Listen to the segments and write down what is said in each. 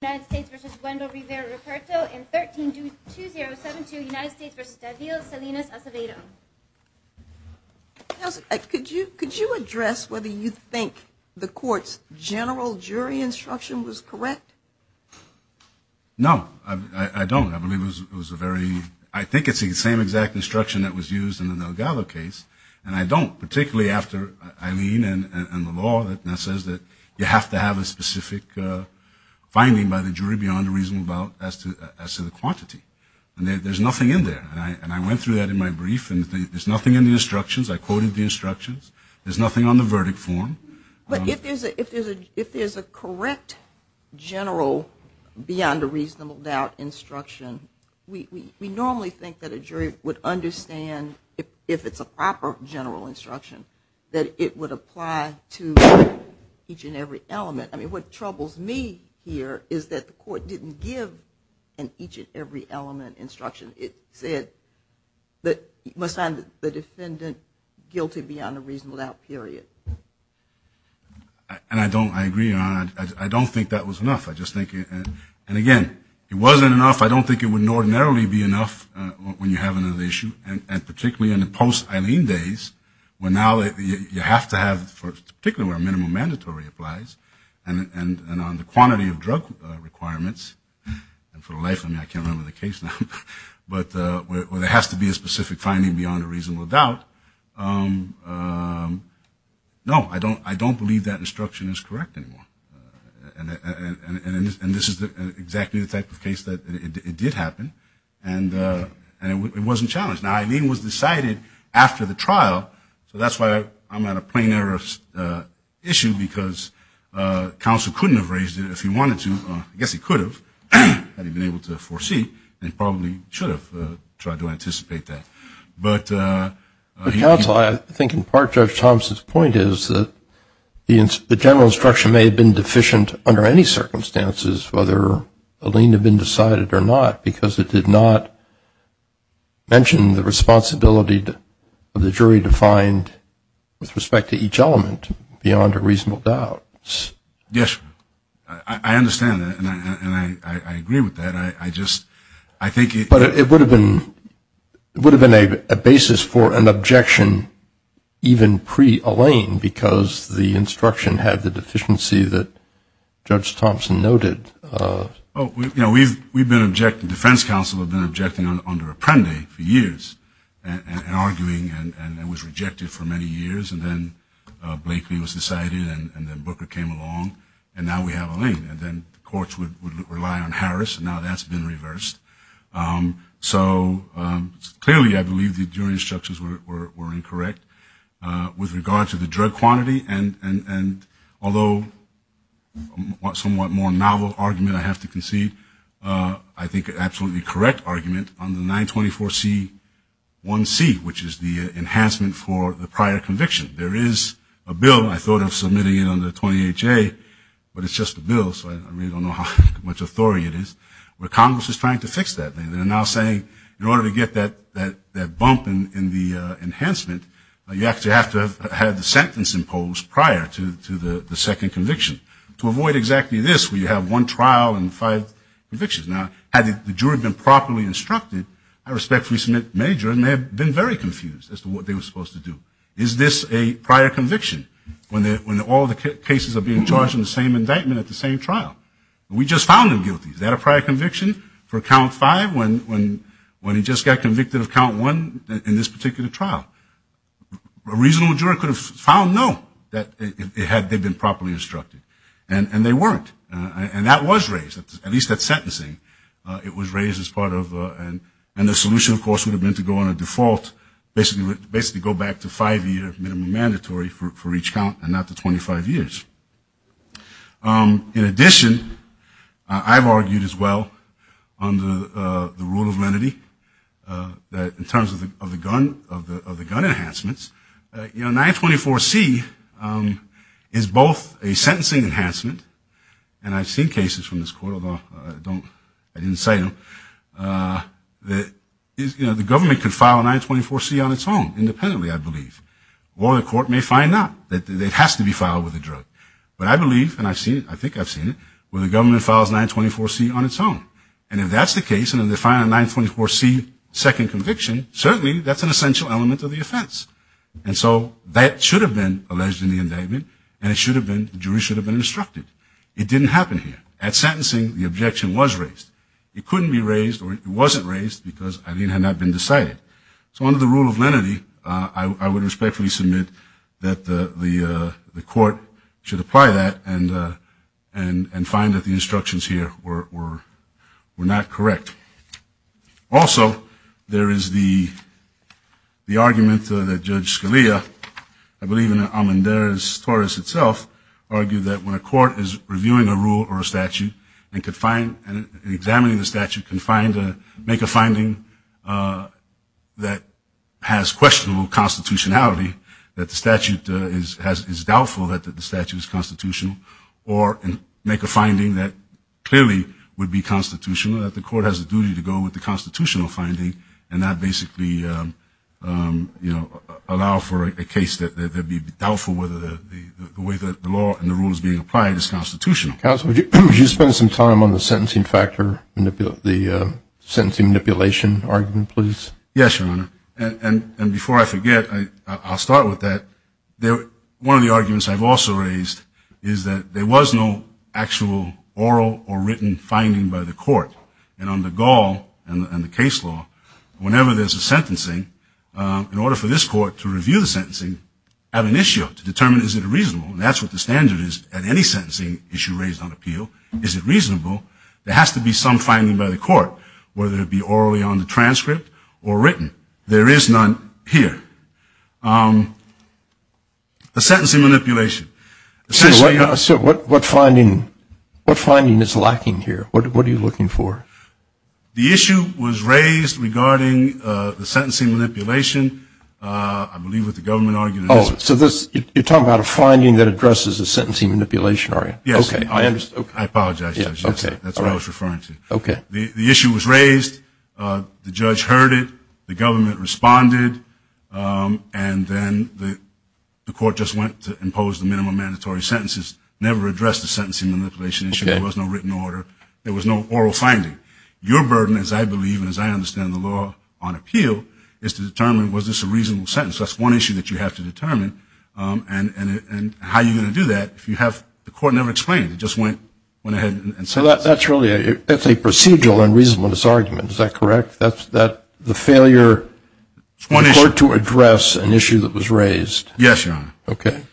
in 13-2072, United States v. David Salinas Acevedo. Counsel, could you address whether you think the court's general jury instruction was correct? No, I don't. I believe it was a very – I think it's the same exact instruction that was used in the Delgado case. And I don't, particularly after Eileen and the law that says that you have to have a specific finding by the jury beyond a reasonable doubt as to the quantity. And there's nothing in there. And I went through that in my brief, and there's nothing in the instructions. I quoted the instructions. There's nothing on the verdict form. But if there's a correct general beyond a reasonable doubt instruction, we normally think that a jury would understand, if it's a proper general instruction, that it would apply to each and every element. I mean, what troubles me here is that the court didn't give an each and every element instruction. It said that you must find the defendant guilty beyond a reasonable doubt, period. And I don't – I agree, Your Honor. I don't think that was enough. I just think – and again, it wasn't enough. I don't think it would ordinarily be enough when you have another issue, and particularly in the post-Eileen days where now you have to have – particularly where minimum mandatory applies and on the quantity of drug requirements. And for the life of me, I can't remember the case now. But where there has to be a specific finding beyond a reasonable doubt, no, I don't believe that instruction is correct anymore. And this is exactly the type of case that it did happen, and it wasn't challenged. Now, Eileen was decided after the trial, so that's why I'm at a plain error issue because counsel couldn't have raised it if he wanted to. I guess he could have, had he been able to foresee, and probably should have tried to anticipate that. But counsel, I think in part Judge Thompson's point is that the general instruction may have been deficient under any circumstances whether Eileen had been decided or not because it did not mention the responsibility of the jury to find, with respect to each element, beyond a reasonable doubt. Yes. I understand that, and I agree with that. But it would have been a basis for an objection even pre-Eileen because the instruction had the deficiency that Judge Thompson noted. We've been objecting – defense counsel have been objecting under Apprendi for years and arguing, and it was rejected for many years. And then Blakely was decided, and then Booker came along, and now we have Eileen. And then the courts would rely on Harris, and now that's been reversed. So clearly I believe the jury instructions were incorrect. With regard to the drug quantity, and although a somewhat more novel argument I have to concede, I think an absolutely correct argument on the 924C1C, which is the enhancement for the prior conviction. There is a bill, and I thought of submitting it under 28J, but it's just a bill, so I really don't know how much authority it is, where Congress is trying to fix that. They're now saying in order to get that bump in the enhancement, you actually have to have had the sentence imposed prior to the second conviction to avoid exactly this where you have one trial and five convictions. Now, had the jury been properly instructed, I respectfully submit, very confused as to what they were supposed to do. Is this a prior conviction when all the cases are being charged in the same indictment at the same trial? We just found him guilty. Is that a prior conviction for count five when he just got convicted of count one in this particular trial? A reasonable jury could have found no, had they been properly instructed, and they weren't. And that was raised, at least at sentencing. It was raised as part of, and the solution, of course, would have been to go on a default, basically go back to five-year minimum mandatory for each count and not to 25 years. In addition, I've argued as well under the rule of lenity that in terms of the gun enhancements, 924C is both a sentencing enhancement, and I've seen cases from this court, although I didn't say them, that the government could file a 924C on its own independently, I believe. Or the court may find out that it has to be filed with a drug. But I believe, and I've seen it, I think I've seen it, where the government files 924C on its own. And if that's the case, and then they find a 924C second conviction, certainly that's an essential element of the offense. And so that should have been alleged in the indictment, and it should have been, the jury should have been instructed. It didn't happen here. At sentencing, the objection was raised. It couldn't be raised, or it wasn't raised, because it had not been decided. So under the rule of lenity, I would respectfully submit that the court should apply that and find that the instructions here were not correct. Also, there is the argument that Judge Scalia, I believe in Amandares-Torres itself, argued that when a court is reviewing a rule or a statute and examining the statute can make a finding that has questionable constitutionality, that the statute is doubtful that the statute is constitutional, or make a finding that clearly would be constitutional, that the court has a duty to go with the constitutional finding and not basically allow for a case that would be doubtful whether the way that the law and the rule is being applied is constitutional. Counsel, would you spend some time on the sentencing factor, the sentencing manipulation argument, please? Yes, Your Honor. And before I forget, I'll start with that. One of the arguments I've also raised is that there was no actual oral or written finding by the court. And under Gall and the case law, whenever there's a sentencing, in order for this court to review the sentencing at an issue to determine is it reasonable, and that's what the standard is at any sentencing issue raised on appeal, is it reasonable, there has to be some finding by the court, whether it be orally on the transcript or written. There is none here. The sentencing manipulation. Sir, what finding is lacking here? What are you looking for? The issue was raised regarding the sentencing manipulation, I believe, with the government argument. Oh, so you're talking about a finding that addresses a sentencing manipulation argument. Yes. I apologize, Judge. That's what I was referring to. The issue was raised. The judge heard it. The government responded. And then the court just went to impose the minimum mandatory sentences, never addressed the sentencing manipulation issue. There was no written order. There was no oral finding. Your burden, as I believe and as I understand the law on appeal, is to determine was this a reasonable sentence. That's one issue that you have to determine. And how are you going to do that if you have the court never explained it? It just went ahead and said it. That's really a procedural and reasonableness argument. Is that correct? The failure to address an issue that was raised. Yes, Your Honor. Okay.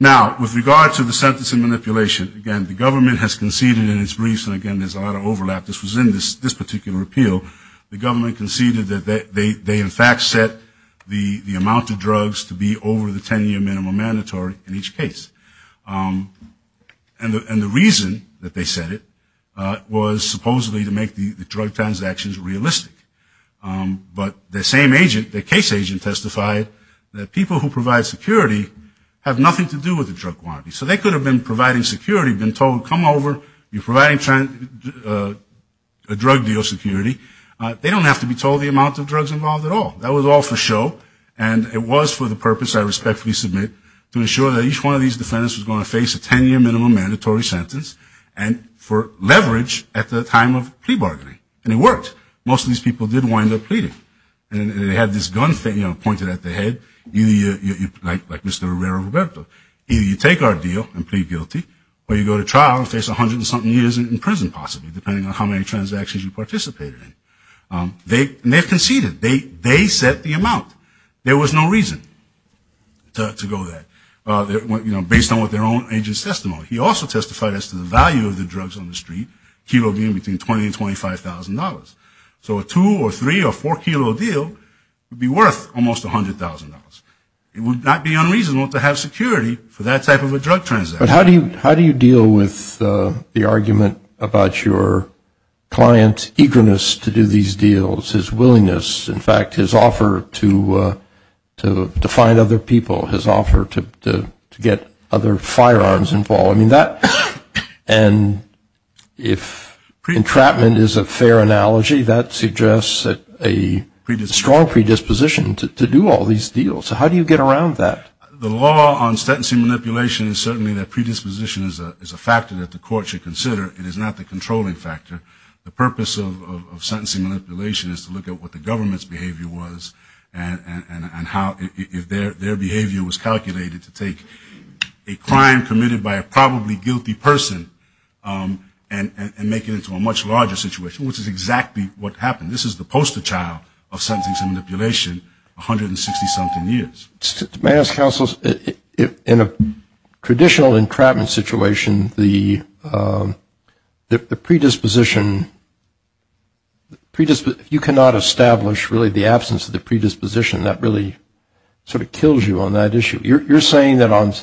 Now, with regard to the sentencing manipulation, again, the government has conceded in its briefs, and, again, there's a lot of overlap. This was in this particular appeal. The government conceded that they, in fact, set the amount of drugs to be over the 10-year minimum mandatory in each case. And the reason that they said it was supposedly to make the drug transactions realistic. But the same agent, the case agent, testified that people who provide security have nothing to do with the drug quantity. So they could have been providing security, been told, come over. You're providing a drug deal security. They don't have to be told the amount of drugs involved at all. That was all for show. And it was for the purpose, I respectfully submit, to ensure that each one of these defendants was going to face a 10-year minimum mandatory sentence and for leverage at the time of plea bargaining. And it worked. Most of these people did wind up pleading. And they had this gun pointed at their head, like Mr. Herrera-Roberto. Either you take our deal and plead guilty, or you go to trial and face 100-and-something years in prison, possibly, depending on how many transactions you participated in. And they conceded. They set the amount. There was no reason to go there, based on what their own agent's testimony. He also testified as to the value of the drugs on the street, a kilo being between $20,000 and $25,000. So a two- or three- or four-kilo deal would be worth almost $100,000. It would not be unreasonable to have security for that type of a drug transaction. But how do you deal with the argument about your client's eagerness to do these deals, his willingness, in fact, his offer to find other people, his offer to get other firearms involved? I mean, that and if entrapment is a fair analogy, that suggests a strong predisposition to do all these deals. So how do you get around that? The law on sentencing manipulation is certainly that predisposition is a factor that the court should consider. It is not the controlling factor. The purpose of sentencing manipulation is to look at what the government's behavior was and how their behavior was calculated to take a crime committed by a probably guilty person and make it into a much larger situation, which is exactly what happened. This is the poster child of sentencing manipulation, 160-something years. May I ask, Counsel, in a traditional entrapment situation, the predisposition, you cannot establish really the absence of the predisposition. That really sort of kills you on that issue. You're saying that on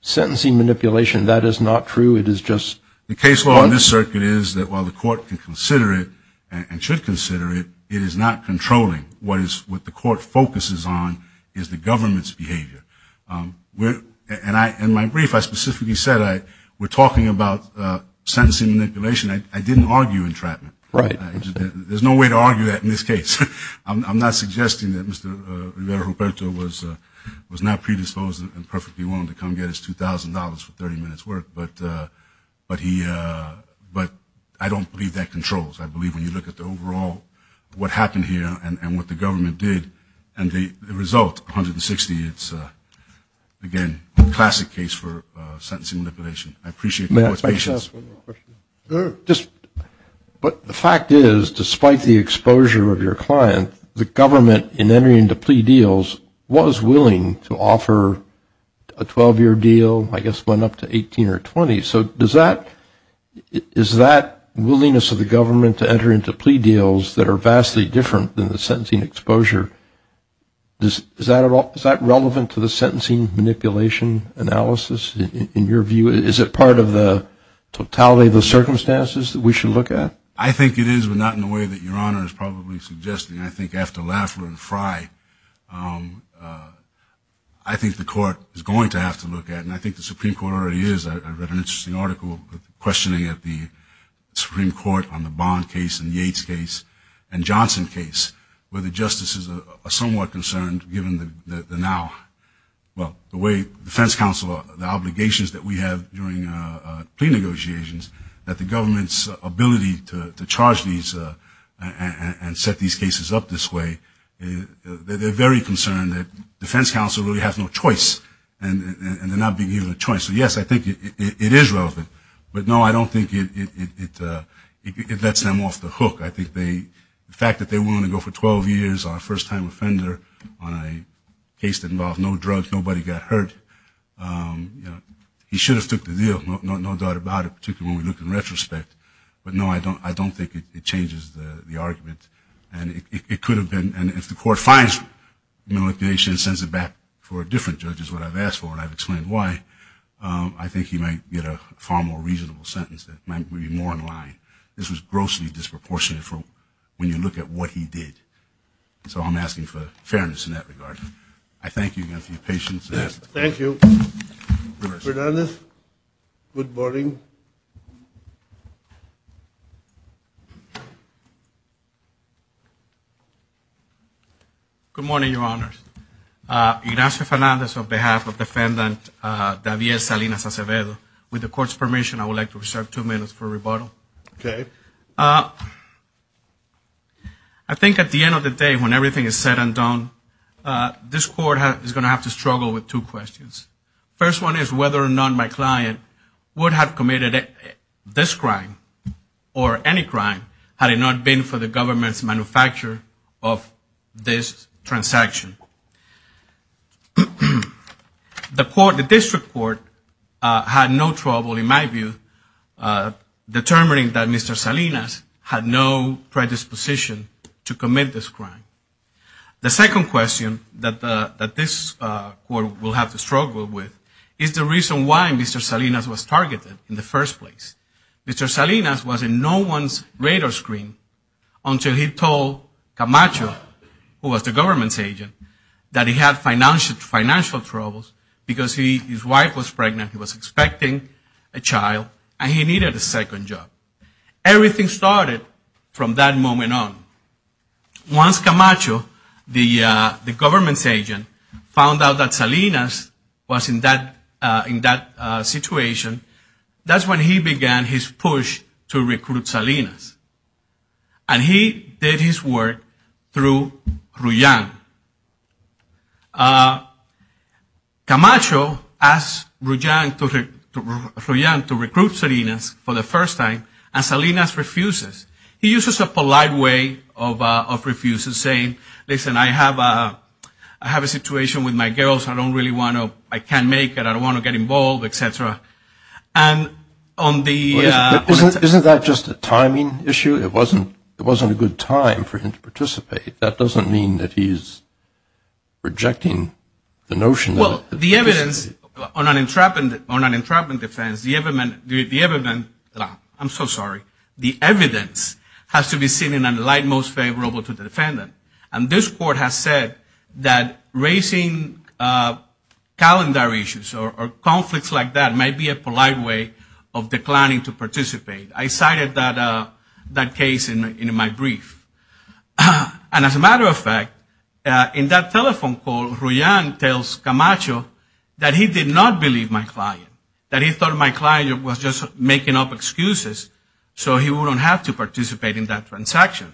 sentencing manipulation that is not true. The case law in this circuit is that while the court can consider it and should consider it, it is not controlling. What the court focuses on is the government's behavior. In my brief, I specifically said we're talking about sentencing manipulation. I didn't argue entrapment. There's no way to argue that in this case. I'm not suggesting that Mr. Rivera-Ruperto was not predisposed and perfectly willing to come get his $2,000 for 30 minutes' work. But I don't believe that controls. I believe when you look at the overall what happened here and what the government did and the result, 160, it's, again, a classic case for sentencing manipulation. I appreciate the court's patience. May I ask one more question? Sure. But the fact is, despite the exposure of your client, the government in entering into plea deals was willing to offer a 12-year deal, I guess one up to 18 or 20. So is that willingness of the government to enter into plea deals that are vastly different than the sentencing exposure, is that relevant to the sentencing manipulation analysis in your view? Is it part of the totality of the circumstances that we should look at? I think it is, but not in the way that Your Honor is probably suggesting. I think after Lafleur and Frye, I think the court is going to have to look at it, and I think the Supreme Court already is. I read an interesting article questioning at the Supreme Court on the Bond case and Yates case and Johnson case, where the justices are somewhat concerned given the now, well, the way defense counsel, the obligations that we have during plea negotiations, that the government's ability to charge these and set these cases up this way, they're very concerned that defense counsel really has no choice and they're not being given a choice. So, yes, I think it is relevant. But, no, I don't think it lets them off the hook. I think the fact that they're willing to go for 12 years on a first-time offender on a case that involved no drugs, nobody got hurt, you know, he should have took the deal, no doubt about it, particularly when we look in retrospect. But, no, I don't think it changes the argument. And it could have been, and if the court finds malignation and sends it back for a different judge is what I've asked for and I've explained why, I think he might get a far more reasonable sentence that might be more in line. This was grossly disproportionate when you look at what he did. So I'm asking for fairness in that regard. I thank you again for your patience. Thank you. Fernandez, good morning. Good morning, Your Honors. Ignacio Fernandez on behalf of Defendant David Salinas Acevedo. With the court's permission, I would like to reserve two minutes for rebuttal. Okay. I think at the end of the day, when everything is said and done, this court is going to have to struggle with two questions. First one is whether or not my client would have committed this crime or any crime had it not been for the government's manufacture of this transaction. The district court had no trouble, in my view, determining that Mr. Salinas had no predisposition to commit this crime. The second question that this court will have to struggle with is the reason why Mr. Salinas was targeted in the first place. Mr. Salinas was in no one's radar screen until he told Camacho, who was the government's agent, that he had financial troubles because his wife was pregnant. He was expecting a child and he needed a second job. Everything started from that moment on. Once Camacho, the government's agent, found out that Salinas was in that situation, that's when he began his push to recruit Salinas. And he did his work through Ruyang. Camacho asked Ruyang to recruit Salinas for the first time, and Salinas refuses. He uses a polite way of refusing, saying, listen, I have a situation with my girls. I don't really want to, I can't make it. I don't want to get involved, et cetera. Isn't that just a timing issue? It wasn't a good time for him to participate. That doesn't mean that he's rejecting the notion. Well, the evidence on an entrapment defense, the evidence, I'm so sorry, the evidence has to be seen in a light most favorable to the defendant. And this court has said that raising calendar issues or conflicts like that may be a polite way of declining to participate. I cited that case in my brief. And as a matter of fact, in that telephone call, Ruyang tells Camacho that he did not believe my client, that he thought my client was just making up excuses so he wouldn't have to participate in that transaction.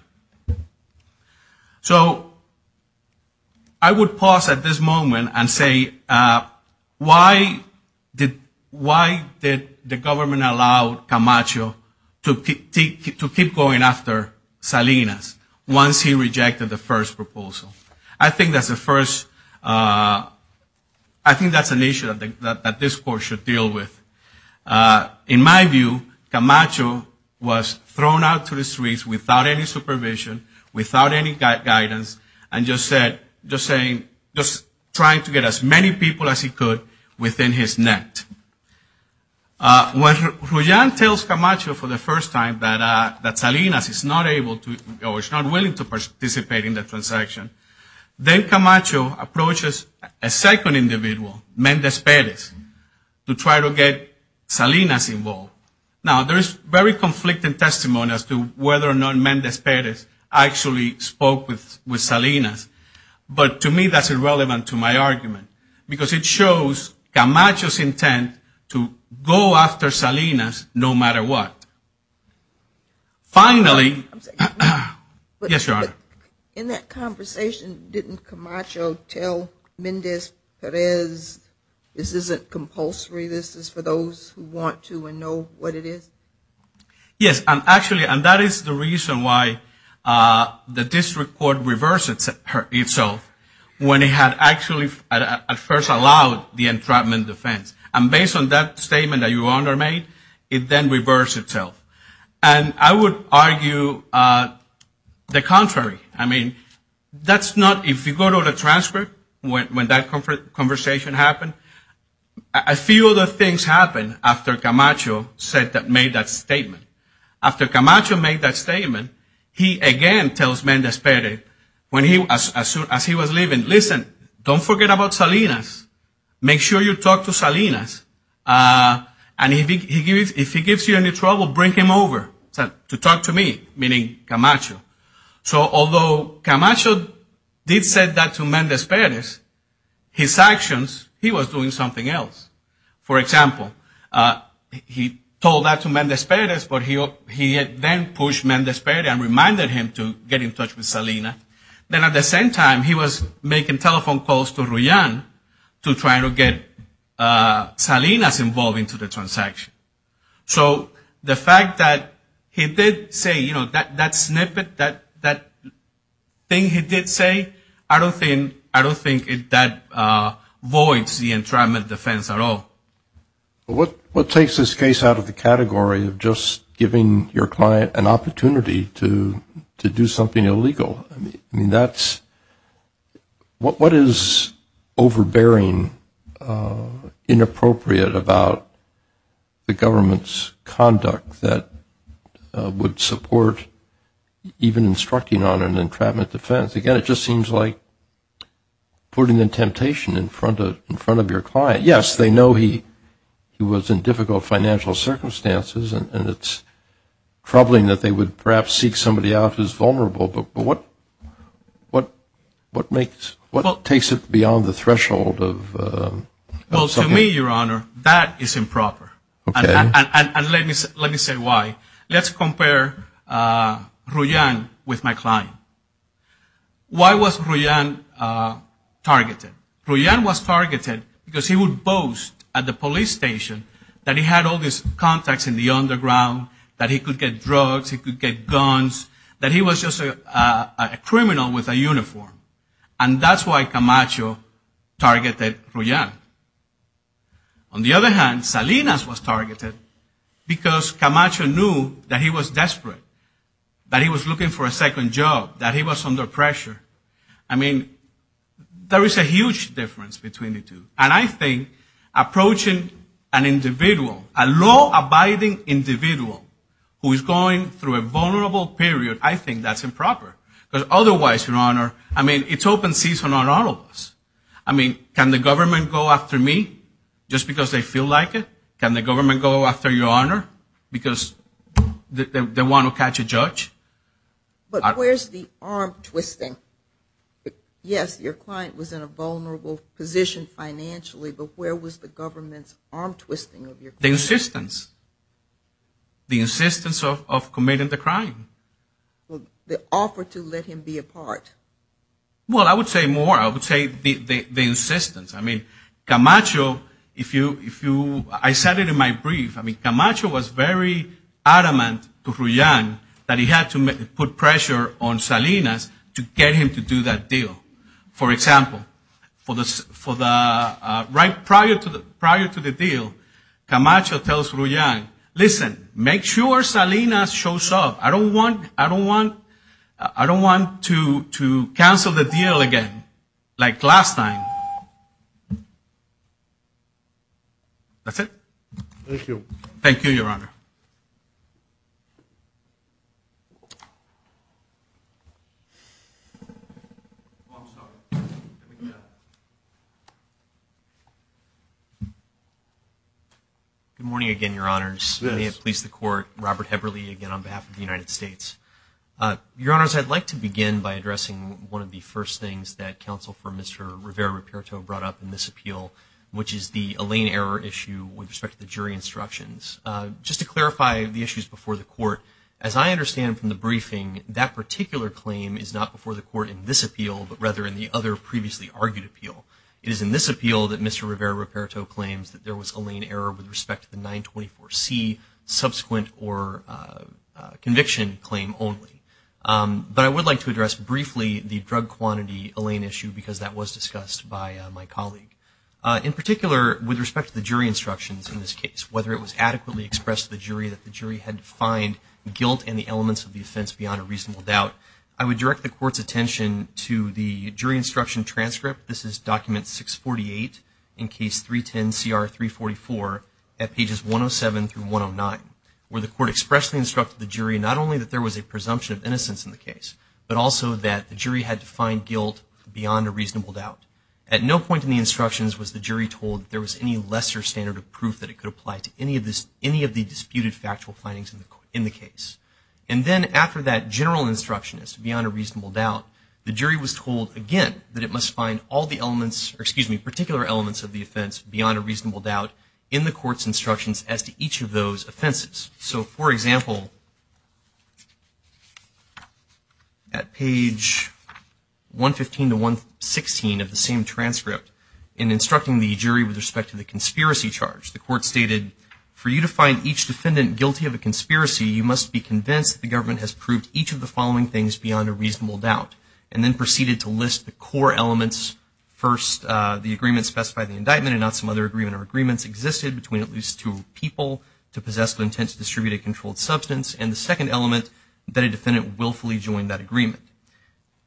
So I would pause at this moment and say, why did the government allow Camacho to keep going after Salinas once he rejected the first proposal? I think that's the first, I think that's an issue that this court should deal with. In my view, Camacho was thrown out to the streets without any supervision, without any guidance, and just saying, just trying to get as many people as he could within his net. When Ruyang tells Camacho for the first time that Salinas is not able to, or is not willing to participate in the transaction, then Camacho approaches a second individual, Mendez-Perez, to try to get Salinas involved. Now, there is very conflicting testimony as to whether or not Mendez-Perez actually spoke with Salinas. But to me, that's irrelevant to my argument because it shows Camacho's intent to go after Salinas no matter what. Finally, yes, Your Honor. In that conversation, didn't Camacho tell Mendez-Perez, this isn't compulsory, this is for those who want to and know what it is? Yes, actually, and that is the reason why the district court reversed itself when it had actually at first allowed the entrapment defense. And based on that statement that Your Honor made, it then reversed itself. And I would argue the contrary. I mean, if you go to the transcript when that conversation happened, a few other things happened after Camacho made that statement. After Camacho made that statement, he again tells Mendez-Perez, as soon as he was leaving, listen, don't forget about Salinas. Make sure you talk to Salinas. And if he gives you any trouble, bring him over to talk to me, meaning Camacho. So although Camacho did say that to Mendez-Perez, his actions, he was doing something else. For example, he told that to Mendez-Perez, but he then pushed Mendez-Perez and reminded him to get in touch with Salinas. Then at the same time, he was making telephone calls to Ruyan to try to get Salinas involved into the transaction. So the fact that he did say, you know, that snippet, that thing he did say, I don't think that voids the entrapment defense at all. What takes this case out of the category of just giving your client an opportunity to do something illegal? I mean, what is overbearing, inappropriate about the government's conduct that would support even instructing on an entrapment defense? Again, it just seems like putting the temptation in front of your client. Yes, they know he was in difficult financial circumstances, and it's troubling that they would perhaps seek somebody out who's vulnerable. But what takes it beyond the threshold of something? Well, to me, Your Honor, that is improper. And let me say why. Let's compare Ruyan with my client. Why was Ruyan targeted? Ruyan was targeted because he would boast at the police station that he had all these contacts in the underground, that he could get drugs, he could get guns, that he was just a criminal with a uniform. And that's why Camacho targeted Ruyan. On the other hand, Salinas was targeted because Camacho knew that he was desperate, that he was looking for a second job, that he was under pressure. I mean, there is a huge difference between the two. And I think approaching an individual, a law-abiding individual who is going through a vulnerable period, I think that's improper. Because otherwise, Your Honor, I mean, it's open season on all of us. I mean, can the government go after me just because they feel like it? Can the government go after Your Honor because they want to catch a judge? But where's the arm-twisting? Yes, your client was in a vulnerable position financially, but where was the government's arm-twisting of your client? The insistence. The insistence of committing the crime. The offer to let him be a part. Well, I would say more. I would say the insistence. I mean, Camacho, if you – I said it in my brief. I mean, Camacho was very adamant to Ruyang that he had to put pressure on Salinas to get him to do that deal. For example, right prior to the deal, Camacho tells Ruyang, listen, make sure Salinas shows up. I don't want to cancel the deal again like last time. That's it. Thank you. Thank you, Your Honor. Good morning again, Your Honors. May it please the Court. Robert Heberle again on behalf of the United States. Your Honors, I'd like to begin by addressing one of the first things that counsel for Mr. Rivera-Ruperto brought up in this appeal, which is the Allain error issue with respect to the jury instructions. Just to clarify the issues before the Court, as I understand from the briefing, that particular claim is not before the Court in this appeal, but rather in the other previously argued appeal. It is in this appeal that Mr. Rivera-Ruperto claims that there was Allain error with respect to the 924C subsequent or conviction claim only. But I would like to address briefly the drug quantity Allain issue because that was discussed by my colleague. In particular, with respect to the jury instructions in this case, whether it was adequately expressed to the jury that the jury had to find guilt in the elements of the offense beyond a reasonable doubt, I would direct the Court's attention to the jury instruction transcript. This is document 648 in case 310CR344 at pages 107 through 109, where the Court expressly instructed the jury not only that there was a presumption of innocence in the case, but also that the jury had to find guilt beyond a reasonable doubt. At no point in the instructions was the jury told that there was any lesser standard of proof that it could apply to any of the disputed factual findings in the case. And then after that general instruction is beyond a reasonable doubt, the jury was told again that it must find all the elements, or excuse me, all the elements as to each of those offenses. So, for example, at page 115 to 116 of the same transcript, in instructing the jury with respect to the conspiracy charge, the Court stated, for you to find each defendant guilty of a conspiracy, you must be convinced that the government has proved each of the following things beyond a reasonable doubt. And then proceeded to list the core elements. First, the agreement specified the indictment and not some other agreement or agreements existed between at least two people to possess the intent to distribute a controlled substance. And the second element, that a defendant willfully joined that agreement.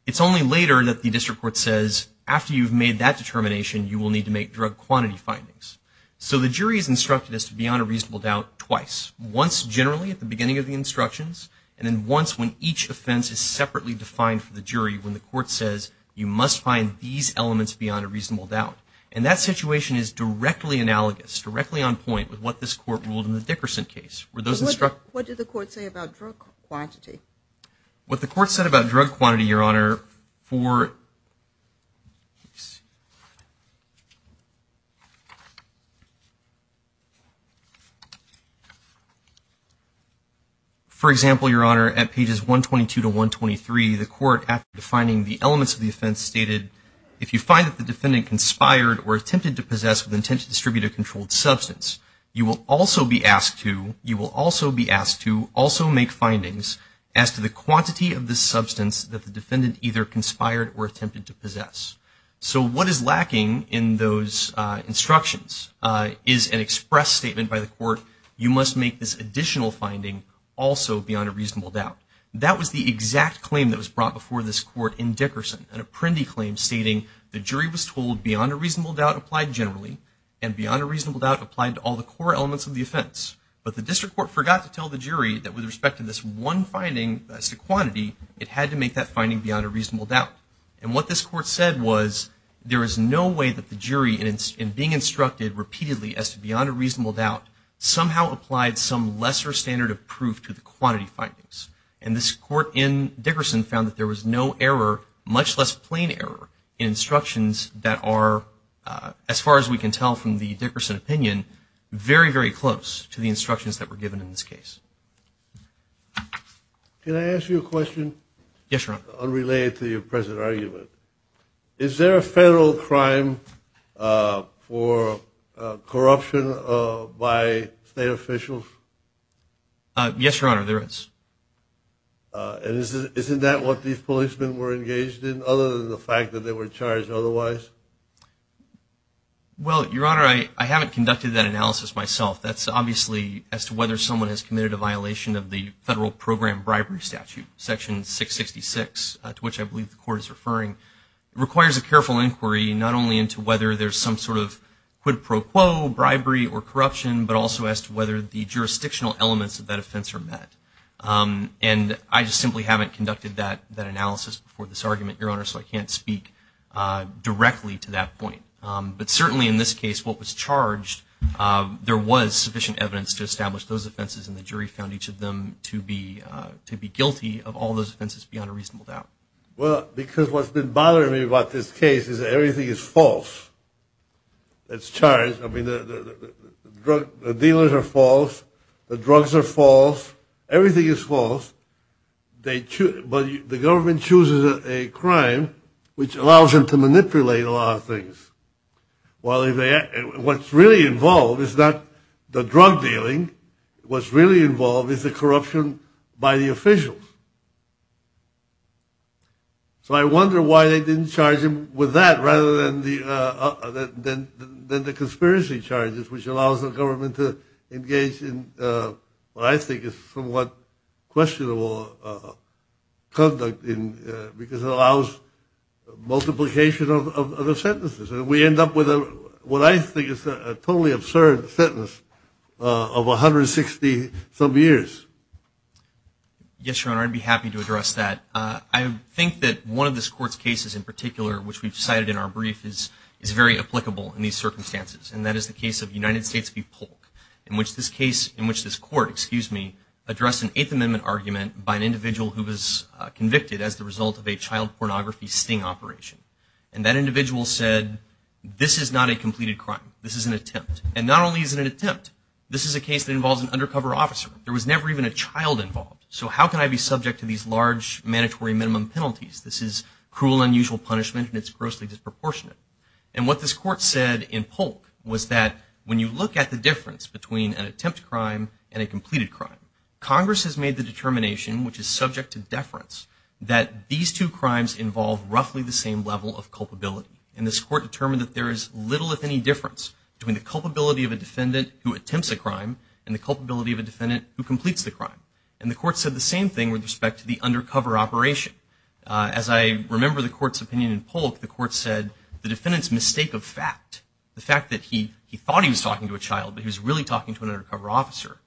It's only later that the District Court says, after you've made that determination, you will need to make drug quantity findings. So the jury is instructed as to beyond a reasonable doubt twice. Once generally at the beginning of the instructions, and then once when each offense is separately defined for the jury when the Court says, you must find these elements beyond a reasonable doubt. And that situation is directly analogous, directly on point with what this Court ruled in the Dickerson case. What did the Court say about drug quantity? What the Court said about drug quantity, Your Honor, for... For example, Your Honor, at pages 122 to 123, the Court, after defining the elements of the offense, stated, if you find that the defendant conspired or attempted to possess with intent to distribute a controlled substance, you will also be asked to, you will also be asked to, also make findings as to the quantity of this substance that the defendant either conspired or attempted to possess. So what is lacking in those instructions is an express statement by the Court, you must make this additional finding also beyond a reasonable doubt. That was the exact claim that was brought before this Court in Dickerson, an Apprendi claim stating the jury was told beyond a reasonable doubt applied generally, and beyond a reasonable doubt applied to all the core elements of the offense. But the District Court forgot to tell the jury that with respect to this one finding as to quantity, it had to make that finding beyond a reasonable doubt. And what this Court said was, there is no way that the jury, in being instructed repeatedly as to beyond a reasonable doubt, somehow applied some lesser standard of proof to the quantity findings. And this Court in Dickerson found that there was no error, much less plain error, in instructions that are, as far as we can tell from the Dickerson opinion, very, very close to the instructions that were given in this case. Can I ask you a question? Yes, Your Honor. Unrelated to your present argument, is there a federal crime for corruption by state officials? Yes, Your Honor, there is. And isn't that what these policemen were engaged in, other than the fact that they were charged otherwise? Well, Your Honor, I haven't conducted that analysis myself. That's obviously as to whether someone has committed a violation of the Federal Program Bribery Statute, Section 666, to which I believe the Court is referring. It requires a careful inquiry not only into whether there's some sort of quid pro quo bribery or jurisdictional elements of that offense are met. And I just simply haven't conducted that analysis before this argument, Your Honor, so I can't speak directly to that point. But certainly in this case, what was charged, there was sufficient evidence to establish those offenses, and the jury found each of them to be guilty of all those offenses beyond a reasonable doubt. Well, because what's been bothering me about this case is that everything is false. It's charged. I mean, the dealers are false. The drugs are false. Everything is false. But the government chooses a crime which allows them to manipulate a lot of things. What's really involved is not the drug dealing. What's really involved is the corruption by the officials. So I wonder why they didn't charge him with that rather than the conspiracy charges, which allows the government to engage in what I think is somewhat questionable conduct because it allows multiplication of the sentences. And we end up with what I think is a totally absurd sentence of 160 some years. Yes, Your Honor, I'd be happy to address that. I think that one of this Court's cases in particular, which we've cited in our brief, is very applicable in these circumstances. And that is the case of United States v. Polk, in which this Court addressed an Eighth Amendment argument by an individual who was convicted as the result of a child pornography sting operation. And that individual said, this is not a completed crime. This is an attempt. And not only is it an attempt, this is a case that involves an undercover officer. There was never even a child involved. So how can I be subject to these large mandatory minimum penalties? This is cruel and unusual punishment and it's grossly disproportionate. And what this Court said in Polk was that when you look at the difference between an attempt crime and a completed crime, Congress has made the determination, which is subject to deference, that these two crimes involve roughly the same level of culpability. And this Court determined that there is little, if any, difference between the culpability of a defendant who attempts a crime and the culpability of a defendant who completes the crime. And the Court said the same thing with respect to the undercover operation. As I remember the Court's opinion in Polk, the Court said the defendant's mistake of fact, the fact that he thought he was talking to a child but he was really talking to an undercover officer,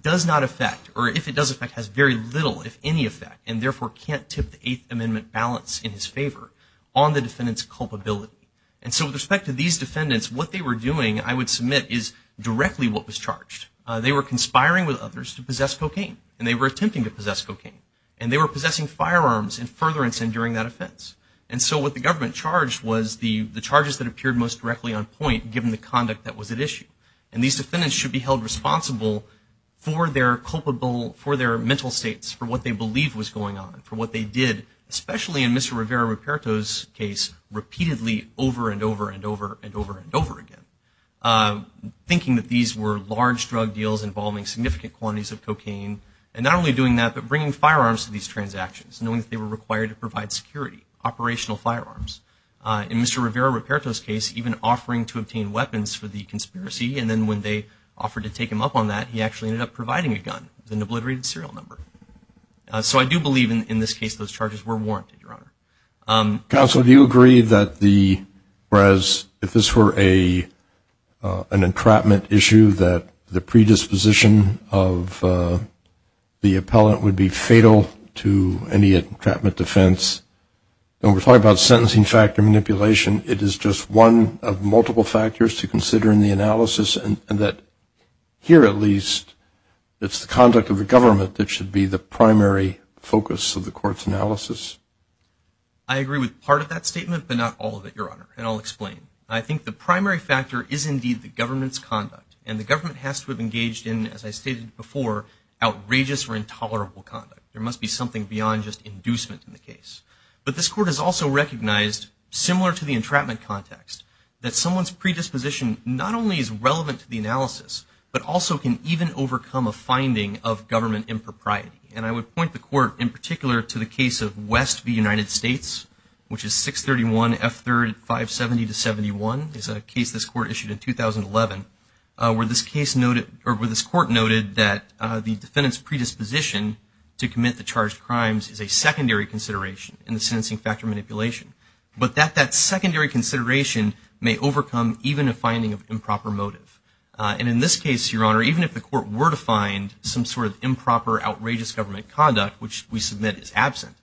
does not affect, or if it does affect, has very little, if any, effect and therefore can't tip the Eighth Amendment balance in his favor on the defendant's culpability. And so with respect to these defendants, what they were doing, I would submit, is directly what was charged. They were conspiring with others to possess cocaine. And they were attempting to possess cocaine. And they were possessing firearms in furtherance and during that offense. And so what the government charged was the charges that appeared most directly on point, given the conduct that was at issue. And these defendants should be held responsible for their culpable, for their mental states, for what they believed was going on, for what they did, especially in Mr. Rivera-Ruperto's case, repeatedly over and over and over and over and over again. Thinking that these were large drug deals involving significant quantities of cocaine and not only doing that, but bringing firearms to these transactions, knowing that they were required to provide security, operational firearms. In Mr. Rivera-Ruperto's case, even offering to obtain weapons for the conspiracy and then when they offered to take him up on that, he actually ended up providing a gun with an obliterated serial number. So I do believe in this case those charges were warranted, Your Honor. Counsel, do you agree that the, whereas if this were a, an entrapment issue that the predisposition of the appellant would be fatal to any entrapment defense, and we're talking about sentencing factor manipulation, it is just one of multiple factors to consider in the analysis and that, here at least, it's the conduct of the government that should be the primary focus of the court's analysis? I agree with part of that statement, but not all of it, Your Honor, and I'll explain. I think the primary factor is indeed the government's conduct and the government has to have engaged in, as I stated before, outrageous or intolerable conduct. There must be something beyond just inducement in the case. But this court has also recognized, similar to the entrapment context, that someone's predisposition not only is relevant to the analysis, but also can even overcome a finding of government impropriety. And I would point the court, in particular, to the case of West v. United States, which is 631 F3rd 570-71. It's a case this court issued in 2011, where this case noted, or where this court noted that the defendant's predisposition to commit the charged crimes is a secondary consideration in the sentencing factor manipulation. But that secondary consideration may overcome even a finding of improper motive. And in this case, Your Honor, even if the court were to find some sort of improper, outrageous government conduct, which we submit is absent,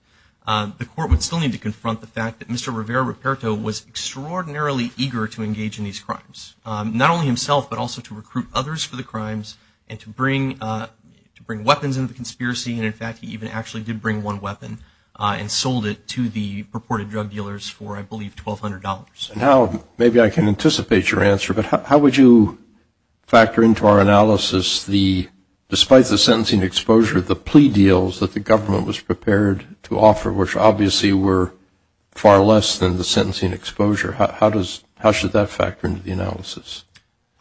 the court would still need to confront the fact that Mr. Rivera-Ruperto was extraordinarily eager to engage in these crimes. Not only himself, but also to recruit others for the crimes and to bring weapons into the conspiracy. And in fact, he even actually did bring one weapon and sold it to the purported drug dealers for, I believe, $1,200. Now, maybe I can anticipate your answer, but how would you factor into our analysis the, despite the sentencing exposure, the plea deals that the government was prepared to offer, which obviously were far less than the sentencing exposure, how should that factor into the analysis?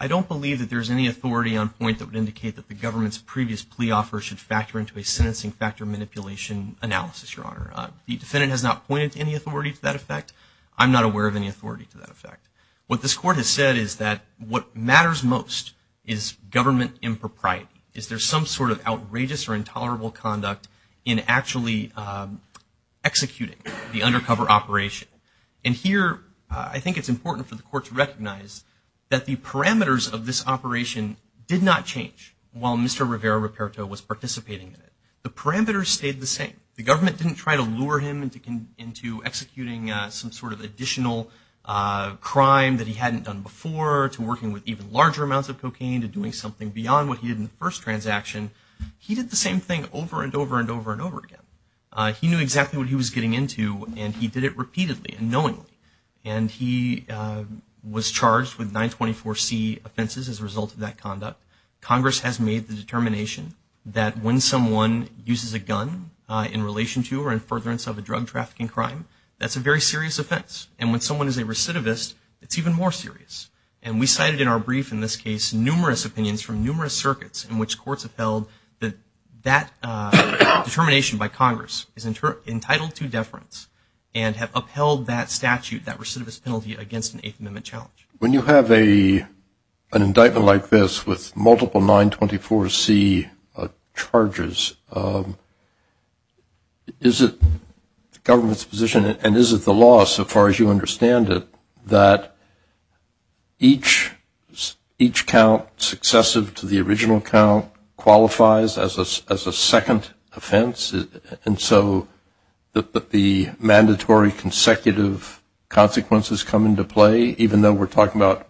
I don't believe that there's any authority on point that would indicate that the government's previous plea offer should factor into a sentencing factor manipulation analysis, Your Honor. The defendant has not pointed to any authority to that effect. I'm not aware of any authority to that effect. What this court has said is that what matters most is government impropriety. Is there some sort of outrageous or intolerable conduct in actually executing the undercover operation? And here, I think it's important for the court to recognize that the parameters of this operation did not change while Mr. Rivera-Ruperto was participating in it. The parameters stayed the same. The government didn't try to lure him into executing some sort of additional crime that he hadn't done before, to working with even larger amounts of cocaine, to doing something beyond what he did in the first transaction. He did the same thing over and over and over and over again. He knew exactly what he was getting into, and he did it repeatedly and knowingly. And he was charged with 924C offenses as a result of that conduct. Congress has made the determination that when someone uses a gun in relation to or in furtherance of a drug trafficking crime, that's a very serious offense. And when someone is a recidivist, it's even more serious. And we cited in our brief in this case numerous opinions from numerous circuits in which courts have held that determination by Congress is entitled to deference and have upheld that statute, that recidivist penalty, against an Eighth Amendment challenge. When you have an indictment like this with multiple 924C charges, is it the government's position, and is it the law so far as you understand it, that each count successive to the original count qualifies as a second offense? And so the mandatory consecutive consequences come into play, even though we're talking about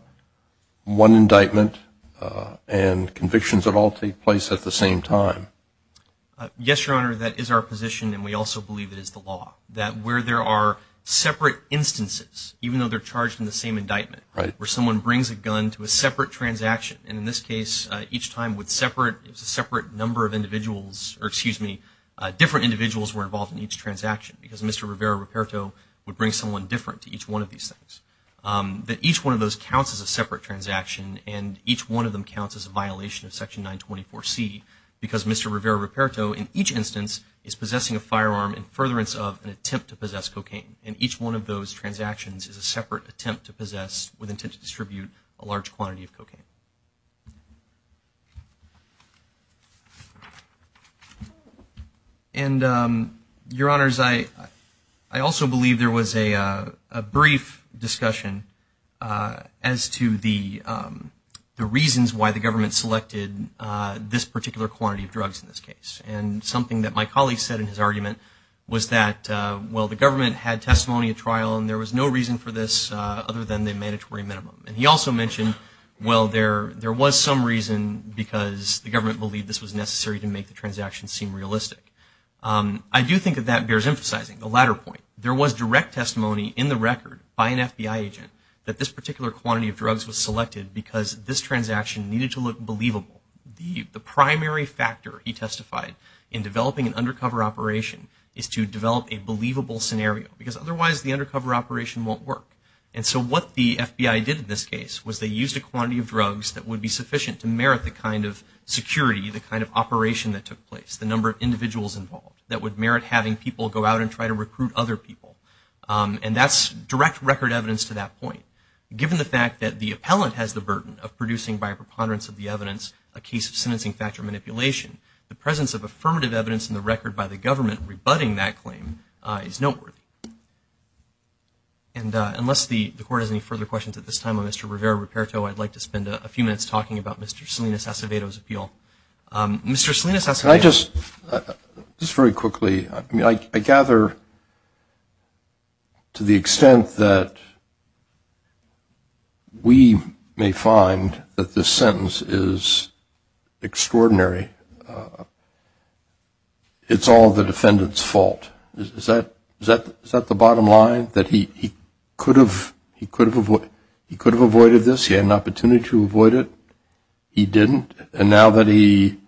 one indictment and convictions that all take place at the same time? Yes, Your Honor, that is our position, and we also believe it is the law. That where there are separate instances, even though they're charged in the same indictment, where someone brings a gun to a separate transaction, and in this case, each time with separate, it was a separate number of individuals, or excuse me, different individuals were involved in each transaction, because Mr. Rivera Ruperto would bring someone different to each one of these things. That each one of those counts as a separate transaction, and each one of them counts as a violation of Section 924C, because Mr. Rivera Ruperto in each instance is possessing a firearm in furtherance of an attempt to possess cocaine. And each one of those transactions is a separate attempt to possess with intent to distribute a large quantity of cocaine. And Your Honors, I also believe there was a brief discussion as to the reasons why the government selected this particular quantity of drugs in this case. And something that my colleague said in his argument was that well, the government had testimony at trial, and there was no reason for this other than the mandatory minimum. And he also mentioned, well, there was some reason because the government believed this was necessary to make the transaction seem realistic. I do think that that bears emphasizing the latter point. There was direct testimony in the record by an FBI agent that this particular quantity of drugs was selected because this transaction needed to look believable. The primary factor, he testified, in developing an undercover operation is to develop a believable scenario, because otherwise the undercover operation won't work. And so what the FBI did in this case was they used a quantity of drugs that would be sufficient to merit the kind of security, the kind of operation that took place, the number of individuals involved that would merit having people go out and try to recruit other people. And that's direct record evidence to that point. Given the fact that the appellant has the burden of producing by a preponderance of the evidence a case of sentencing factor manipulation, the presence of affirmative evidence in the record by the government rebutting that claim is noteworthy. And unless the court has any further questions at this time on Mr. Rivera-Riperto, I'd like to spend a few minutes talking about Mr. Salinas Acevedo's appeal. Mr. Salinas Acevedo. Can I just, just very quickly, I gather to the extent that we may find that this sentence is extraordinary, it's all the defendant's fault. Is that the bottom line, that he could have avoided this, he had an opportunity to avoid it, he didn't, and now that he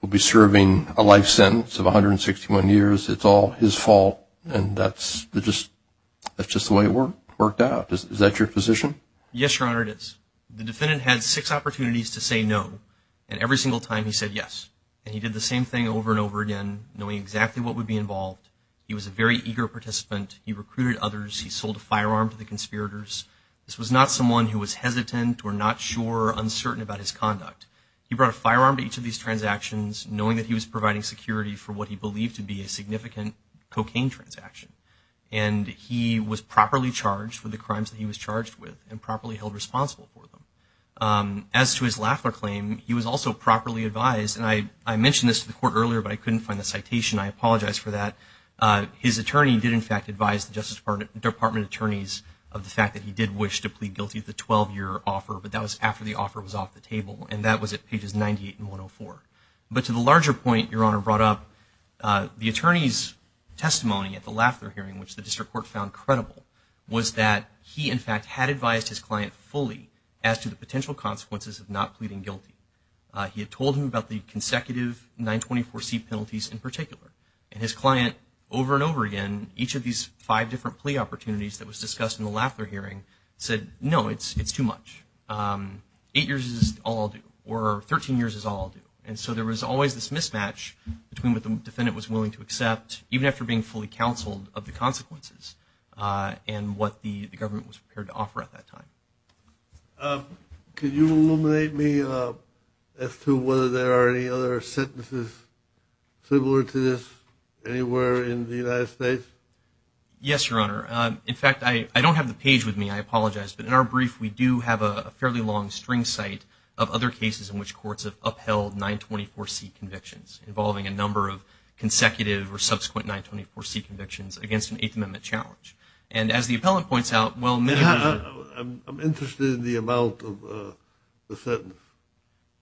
will be serving a life sentence of 161 years, it's all his fault, and that's just the way it worked out. Is that your position? Yes, Your Honor, it is. The defendant had six opportunities to say no, and every single time he said yes. And he did the same thing over and over again, knowing exactly what would be involved. He was a very eager participant, he recruited others, he sold a firearm to the conspirators. This was not someone who was hesitant or not sure or uncertain about his conduct. He brought a firearm to each of these transactions, knowing that he was providing security for what he believed to be a significant cocaine transaction. And he was properly charged for the crimes that he was charged with, and properly held responsible for them. As to his Lafler claim, he was also properly advised, and I mentioned this to the Court earlier, but I couldn't find the citation, I apologize for that. His attorney did in fact advise the Justice Department attorneys of the fact that he did wish to plead guilty to the 12-year offer, but that was after the offer was off the table, and that was at pages 98 and 104. But to the larger point Your Honor brought up, the attorney's testimony at the Lafler hearing, which the District Court found credible, was that he in fact had advised his client fully as to the potential consequences of not pleading guilty. He had told him about the consecutive 924C penalties in particular. And his client, over and over again, each of these five different plea opportunities that was discussed in the Lafler hearing, said, no, it's too much. Eight years is all I'll do, or 13 years is all I'll do. And so there was always this mismatch between what the defendant was willing to accept, even after being fully counseled of the consequences, and what the government was prepared to offer at that time. Could you illuminate me as to whether there are any other sentences similar to this anywhere in the United States? Yes, Your Honor. In fact, I don't have the page with me, I apologize, but in our brief we do have a fairly long string cite of other cases in which courts have upheld 924C convictions, involving a number of consecutive or subsequent 924C convictions, against an Eighth Amendment challenge. And as the appellant points out, well, I'm interested in the amount of the sentence.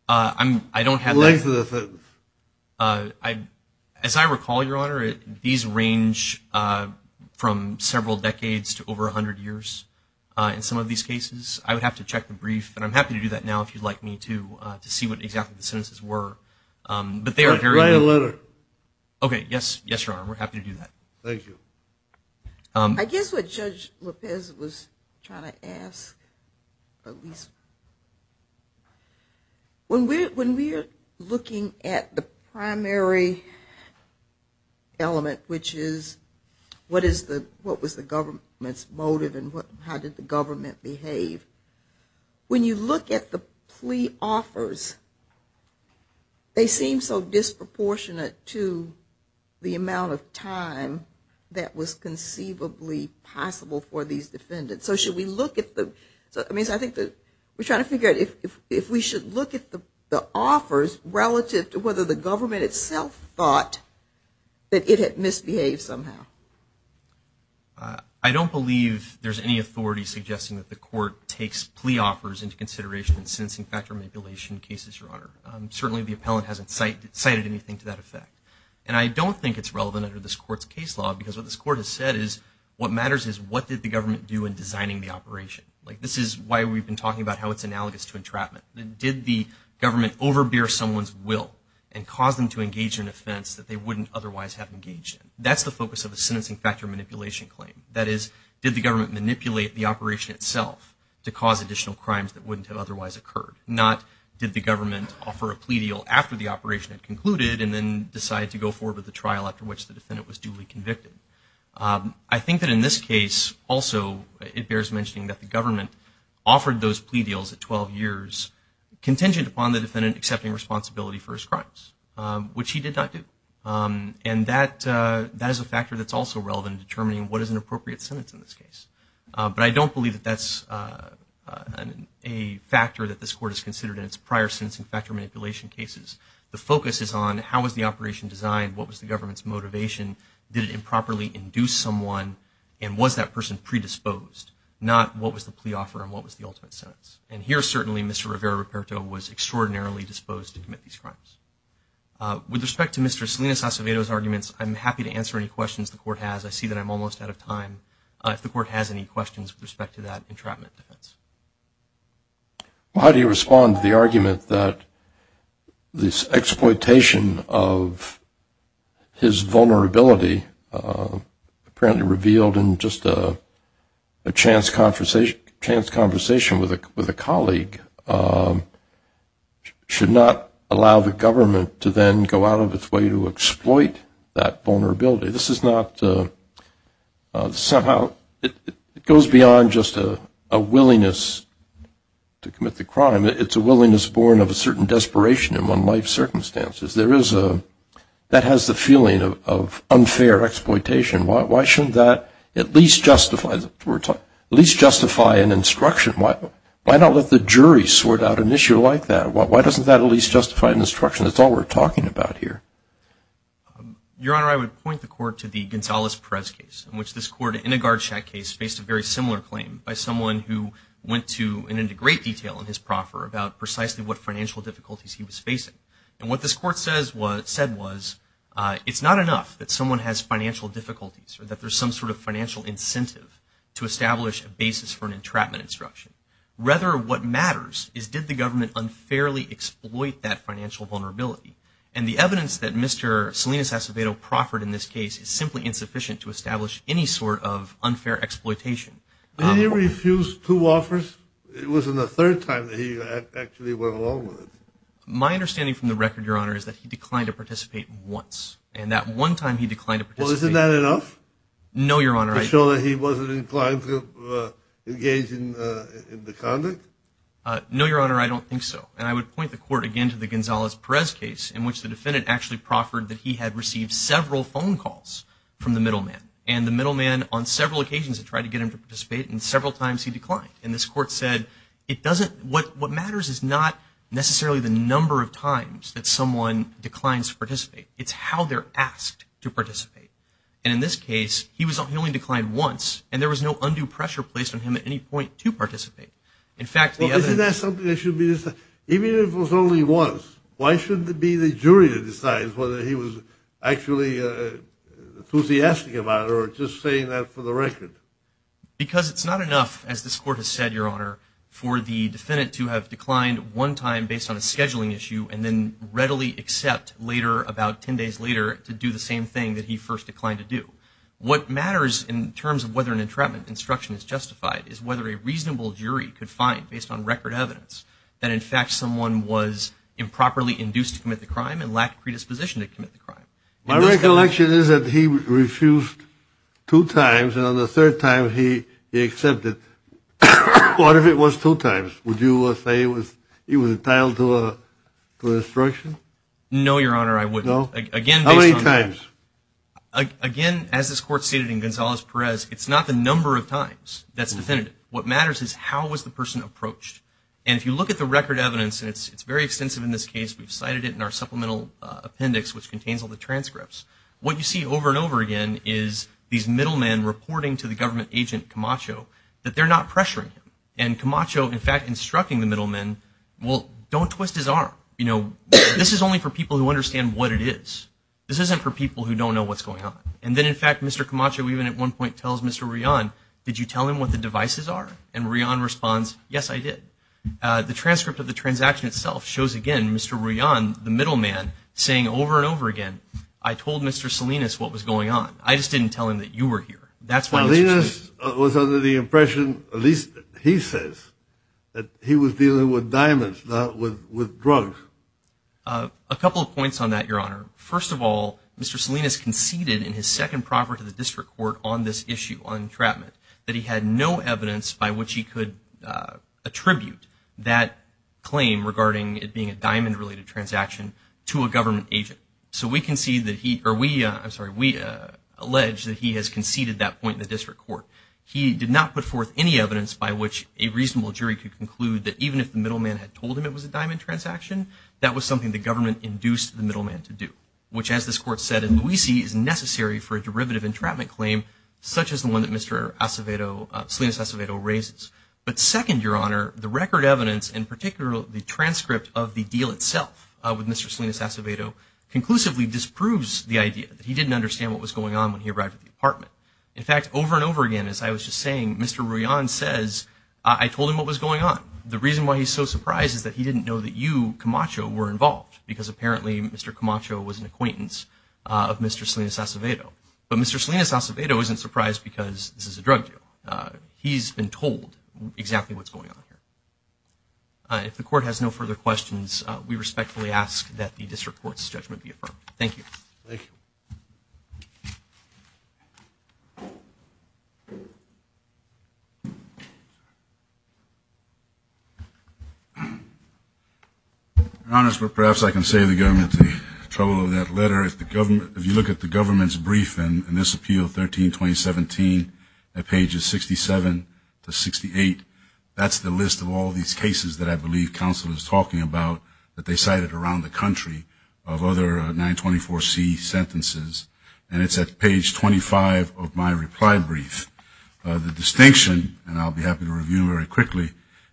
I don't have that. The length of the sentence. As I recall, Your Honor, these range from several decades to over 100 years in some of these cases. I would have to check the brief, and I'm happy to do that now if you'd like me to, to see what exactly the sentences were. Write a letter. Okay, yes, Your Honor, we're happy to do that. Thank you. I guess what Judge Lopez was trying to ask, at least, when we're looking at the primary element, which is, what was the government's motive, and how did the government behave? When you look at the plea offers, they seem so disproportionate to the amount of time that was conceivably possible for these defendants. So should we look at the we're trying to figure out if we should look at the offers relative to whether the government itself thought that it had misbehaved somehow. I don't believe there's any authority suggesting that the court takes plea offers into consideration in sentencing factor manipulation cases, Your Honor. Certainly the appellant hasn't cited anything to that effect. And I don't think it's relevant under this court's case law because what this court has said is, what matters is, what did the government do in designing the operation? This is why we've been talking about how it's analogous to entrapment. Did the government overbear someone's will and cause them to engage in an offense that they wouldn't otherwise have engaged in? That's the focus of a sentencing factor manipulation claim. That is, did the government manipulate the operation itself to cause additional crimes that wouldn't have otherwise occurred? Not, did the government offer a plea deal after the operation had concluded and then decide to go forward with the trial after which the defendant was duly convicted? I think that in this case, also, it bears mentioning that the government offered those plea deals at 12 years contingent upon the defendant accepting responsibility for his crimes, which he did not do. And that is a factor that's also relevant in determining what is an appropriate sentence in this case. But I don't believe that that's a factor that this court has considered in its prior sentencing factor manipulation cases. The focus is on how was the operation designed, what was the government's motivation, did it improperly induce someone, and was that person predisposed? Not, what was the plea offer and what was the ultimate sentence? And here, certainly, Mr. Rivera-Ruperto was extraordinarily disposed to commit these crimes. With respect to Mr. Salinas-Acevedo's arguments, I'm happy to answer any questions the court has. I see that I'm not seeing any questions with respect to that entrapment defense. Well, how do you respond to the argument that this exploitation of his vulnerability apparently revealed in just a chance conversation with a colleague should not allow the government to then go out of its way to exploit that vulnerability? This is not somehow, it goes beyond just a willingness to commit the crime. It's a willingness born of a certain desperation among life circumstances. That has the feeling of unfair exploitation. Why shouldn't that at least justify an instruction? Why not let the jury sort out an issue like that? Why doesn't that at least justify an instruction? That's all we're talking about here. Your Honor, I would point the court to the Gonzales-Perez case in which this court, in a guard shack case, faced a very similar claim by someone who went into great detail in his proffer about precisely what financial difficulties he was facing. And what this court said was it's not enough that someone has financial difficulties or that there's some sort of financial incentive to establish a basis for an entrapment instruction. Rather, what matters is did the government unfairly exploit that financial vulnerability? And the evidence that Mr. Salinas Acevedo proffered in this case is simply insufficient to establish any sort of unfair exploitation. Did he refuse two offers? It wasn't the third time that he actually went along with it. My understanding from the record, Your Honor, is that he declined to participate once. And that one time he declined to participate. Well, isn't that enough? No, Your Honor. To show that he wasn't inclined to engage in the conduct? No, Your Honor, I don't think so. And I would point the court again to the Gonzalez-Perez case in which the defendant actually proffered that he had received several phone calls from the middleman. And the middleman on several occasions had tried to get him to participate and several times he declined. And this court said it doesn't, what matters is not necessarily the number of times that someone declines to participate. It's how they're asked to participate. And in this case, he only declined once and there was no undue pressure placed on him at any point to participate. Well, isn't that something that should be decided? Even if it was only once, why shouldn't it be the jury that decides whether he was actually enthusiastic about it or just saying that for the record? Because it's not enough, as this court has said, Your Honor, for the defendant to have declined one time based on a scheduling issue and then readily accept later, about ten days later, to do the same thing that he first declined to do. What matters in terms of whether an entrapment instruction is justified is whether a reasonable jury could find, based on record evidence, that in fact someone was improperly induced to commit the crime and lacked predisposition to commit the crime. My recollection is that he refused two times and on the third time he accepted. What if it was two times? Would you say he was entitled to instruction? No, Your Honor, I wouldn't. How many times? Again, as this court stated in Gonzalez-Perez, it's not the number of times that's definitive. What matters is how was the person approached. And if you look at the record evidence, and it's very extensive in this case, we've cited it in our supplemental appendix, which contains all the transcripts, what you see over and over again is these middlemen reporting to the government agent Camacho that they're not pressuring him. And Camacho, in fact, instructing the middlemen, well, don't twist his arm. This is only for people who understand what it is. This isn't for people who don't know what's going on. And then, in fact, Mr. Camacho even at one point tells Mr. Rion, did you tell him what the devices are? And Rion responds, yes, I did. The transcript of the transaction itself shows again Mr. Rion, the middleman, saying over and over again, I told Mr. Salinas what was going on. I just didn't tell him that you were here. Salinas was under the impression, at least he says, that he was dealing with diamonds, not with drugs. A couple of points on that, Your Honor. First of all, Mr. Salinas conceded in his second proffer to the District Court on this issue on entrapment that he had no evidence by which he could attribute that claim regarding it being a diamond-related transaction to a government agent. So we concede that he, or we, I'm sorry, we allege that he has conceded that point in the District Court. He did not put forth any evidence by which a reasonable jury could conclude that even if the middleman had told him it was a diamond transaction, that was something the government induced the middleman to do. Which, as this Court said in Luisi, is necessary for a derivative entrapment claim such as the one that Mr. Acevedo, Salinas Acevedo raises. But second, Your Honor, the record evidence, in particular the transcript of the deal itself with Mr. Salinas Acevedo, conclusively disproves the idea that he didn't understand what was going on when he arrived at the apartment. In fact, over and over again, as I was just saying, Mr. Rion says, I told him what was going on. The reason why he's so surprised is that he didn't know that you, Mr. Camacho, were involved. Because apparently Mr. Camacho was an acquaintance of Mr. Salinas Acevedo. But Mr. Salinas Acevedo isn't surprised because this is a drug deal. He's been told exactly what's going on here. If the Court has no further questions, we respectfully ask that the District Court's judgment be affirmed. Thank you. Your Honor, perhaps I can save the government the trouble of that letter. If you look at the government's brief in this appeal 13-2017 at pages 67 to 68, that's the list of all these cases that I believe counsel is talking about that they cited around the country of other 924C sentences. And it's at page 25 of my reply brief. The distinction, and I'll be happy to review it very quickly,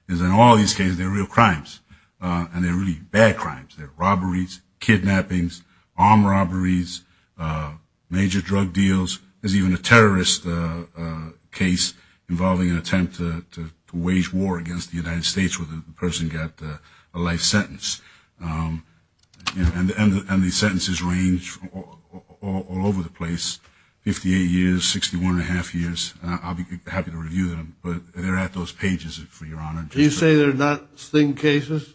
is in all these cases, they're real crimes. And they're really bad crimes. They're robberies, kidnappings, armed robberies, major drug deals. There's even a terrorist case involving an attempt to wage war against the United States where the person got a life sentence. And these sentences range all over the place, 58 years, 61 1⁄2 years. I'll be happy to review them. But they're at those pages for Your Honor. Do you say they're not sting cases?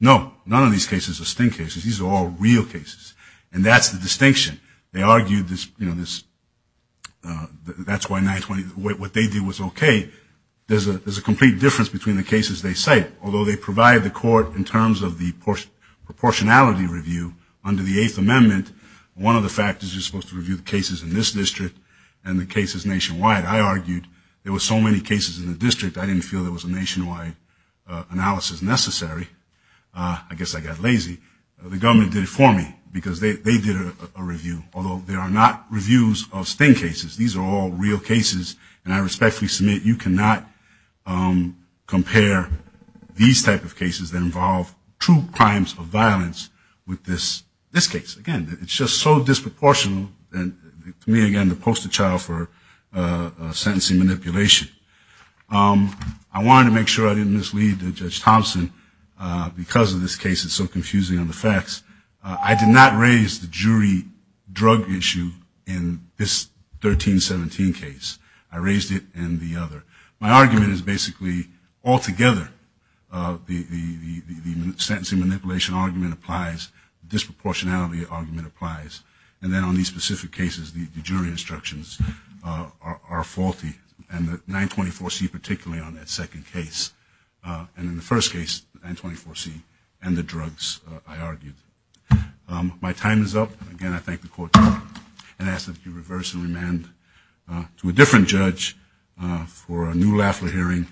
No. None of these cases are sting cases. These are all real cases. And that's the distinction. They argued this, you know, that's why 924, what they did was okay. There's a complete difference between the cases they cite. Although they provide the court in terms of the proportionality review under the Eighth Amendment, one of the factors you're supposed to review the cases in this district and the cases nationwide. I argued there were so many cases in the district, I didn't feel there was a nationwide analysis necessary. I guess I got lazy. The government did it for me because they did a review. Although they are not reviews of sting cases. These are all real cases. And I respectfully submit you cannot compare these type of cases that involve true crimes of violence with this case. Again, it's just so disproportional. And to me, again, the poster child for sentencing manipulation. I wanted to make sure I didn't mislead Judge Thompson because of this case is so confusing on the facts. I did not raise the jury drug issue in this 1317 case. I raised it in the other. My argument is basically altogether the sentencing manipulation argument applies. The disproportionality argument applies. And then on these specific cases, the jury instructions are faulty. And the 924C particularly on that second case. And in the first case 924C and the drugs I argued. My time is up. Again, I thank the Court and ask that you reverse and remand to a different judge for a new Lafler hearing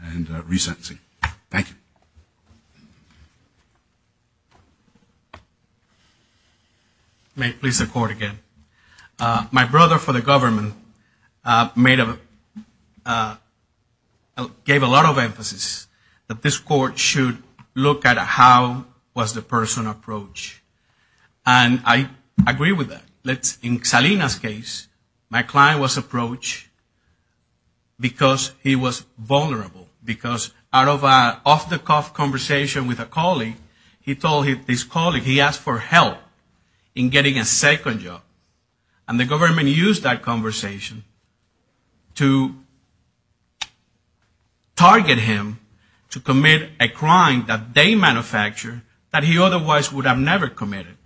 and resentencing. Thank you. May it please the Court again. My brother for the government gave a lot of emphasis that this Court should look at how was the person approached. And I agree with that. In Salina's case, my client was approached because he was vulnerable. Because out of the conversation with a colleague, he told his colleague he asked for help in getting a second job. And the government used that conversation to target him to commit a crime that they manufactured that he otherwise would have never committed.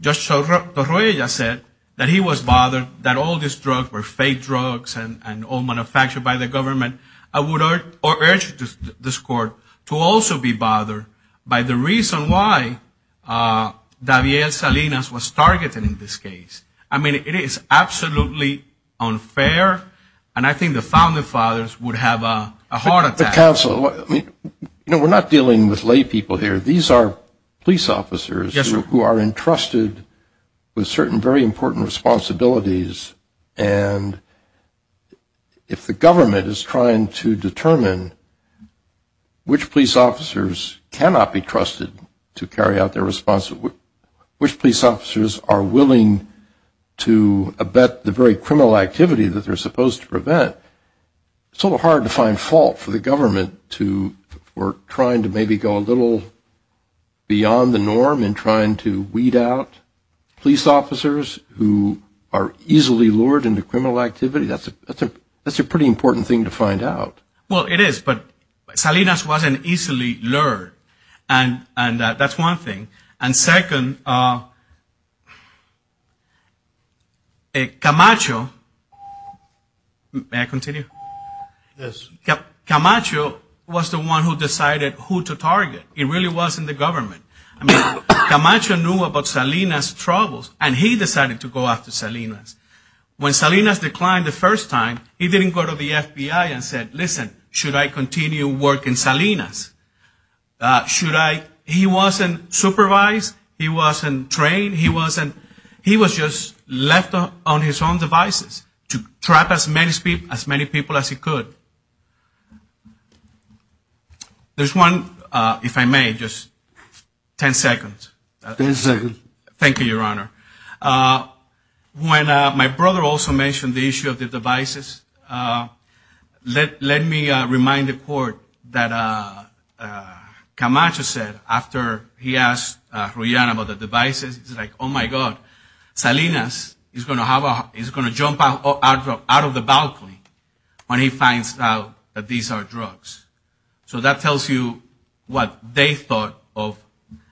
Judge Torroya said that he was bothered that all these drugs were fake drugs and all manufactured by the government. I would urge this Court to also be bothered by the reason why Daviel Salinas was targeted in this case. I mean, it is absolutely unfair and I think the founding fathers would have a heart attack. Counsel, we're not dealing with lay people here. These are police officers who are entrusted with certain very important responsibilities and if the government is trying to determine which police officers cannot be trusted to carry out their responsibilities, which police officers are willing to abet the very criminal activity that they're supposed to prevent, it's a little hard to find fault for the government for trying to maybe go a little beyond the norm in trying to weed out police officers who are easily lured into criminal activity. That's a pretty important thing to find out. Well, it is, but Salinas wasn't easily lured. And that's one thing. And second, Camacho, may I continue? Yes. Camacho was the one who decided who to target. It really wasn't the government. I mean, Camacho knew about Salinas' troubles and he decided to go after Salinas. When Salinas declined the first time, he didn't go to the FBI and said, listen, should I continue working Salinas? He wasn't supervised. He wasn't trained. He was just left on his own devices to trap as many people as he could. There's one, if I may, just 10 seconds. When my brother also mentioned the issue of the devices, let me remind the court that Camacho said after he asked Ruyan about the devices, he's like, oh, my God, Salinas is going to jump out of the balcony when he finds out that these are drugs. So that tells you what they thought of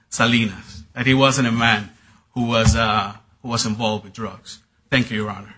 Salinas, that he wasn't a man who was involved with drugs. Thank you, Your Honor.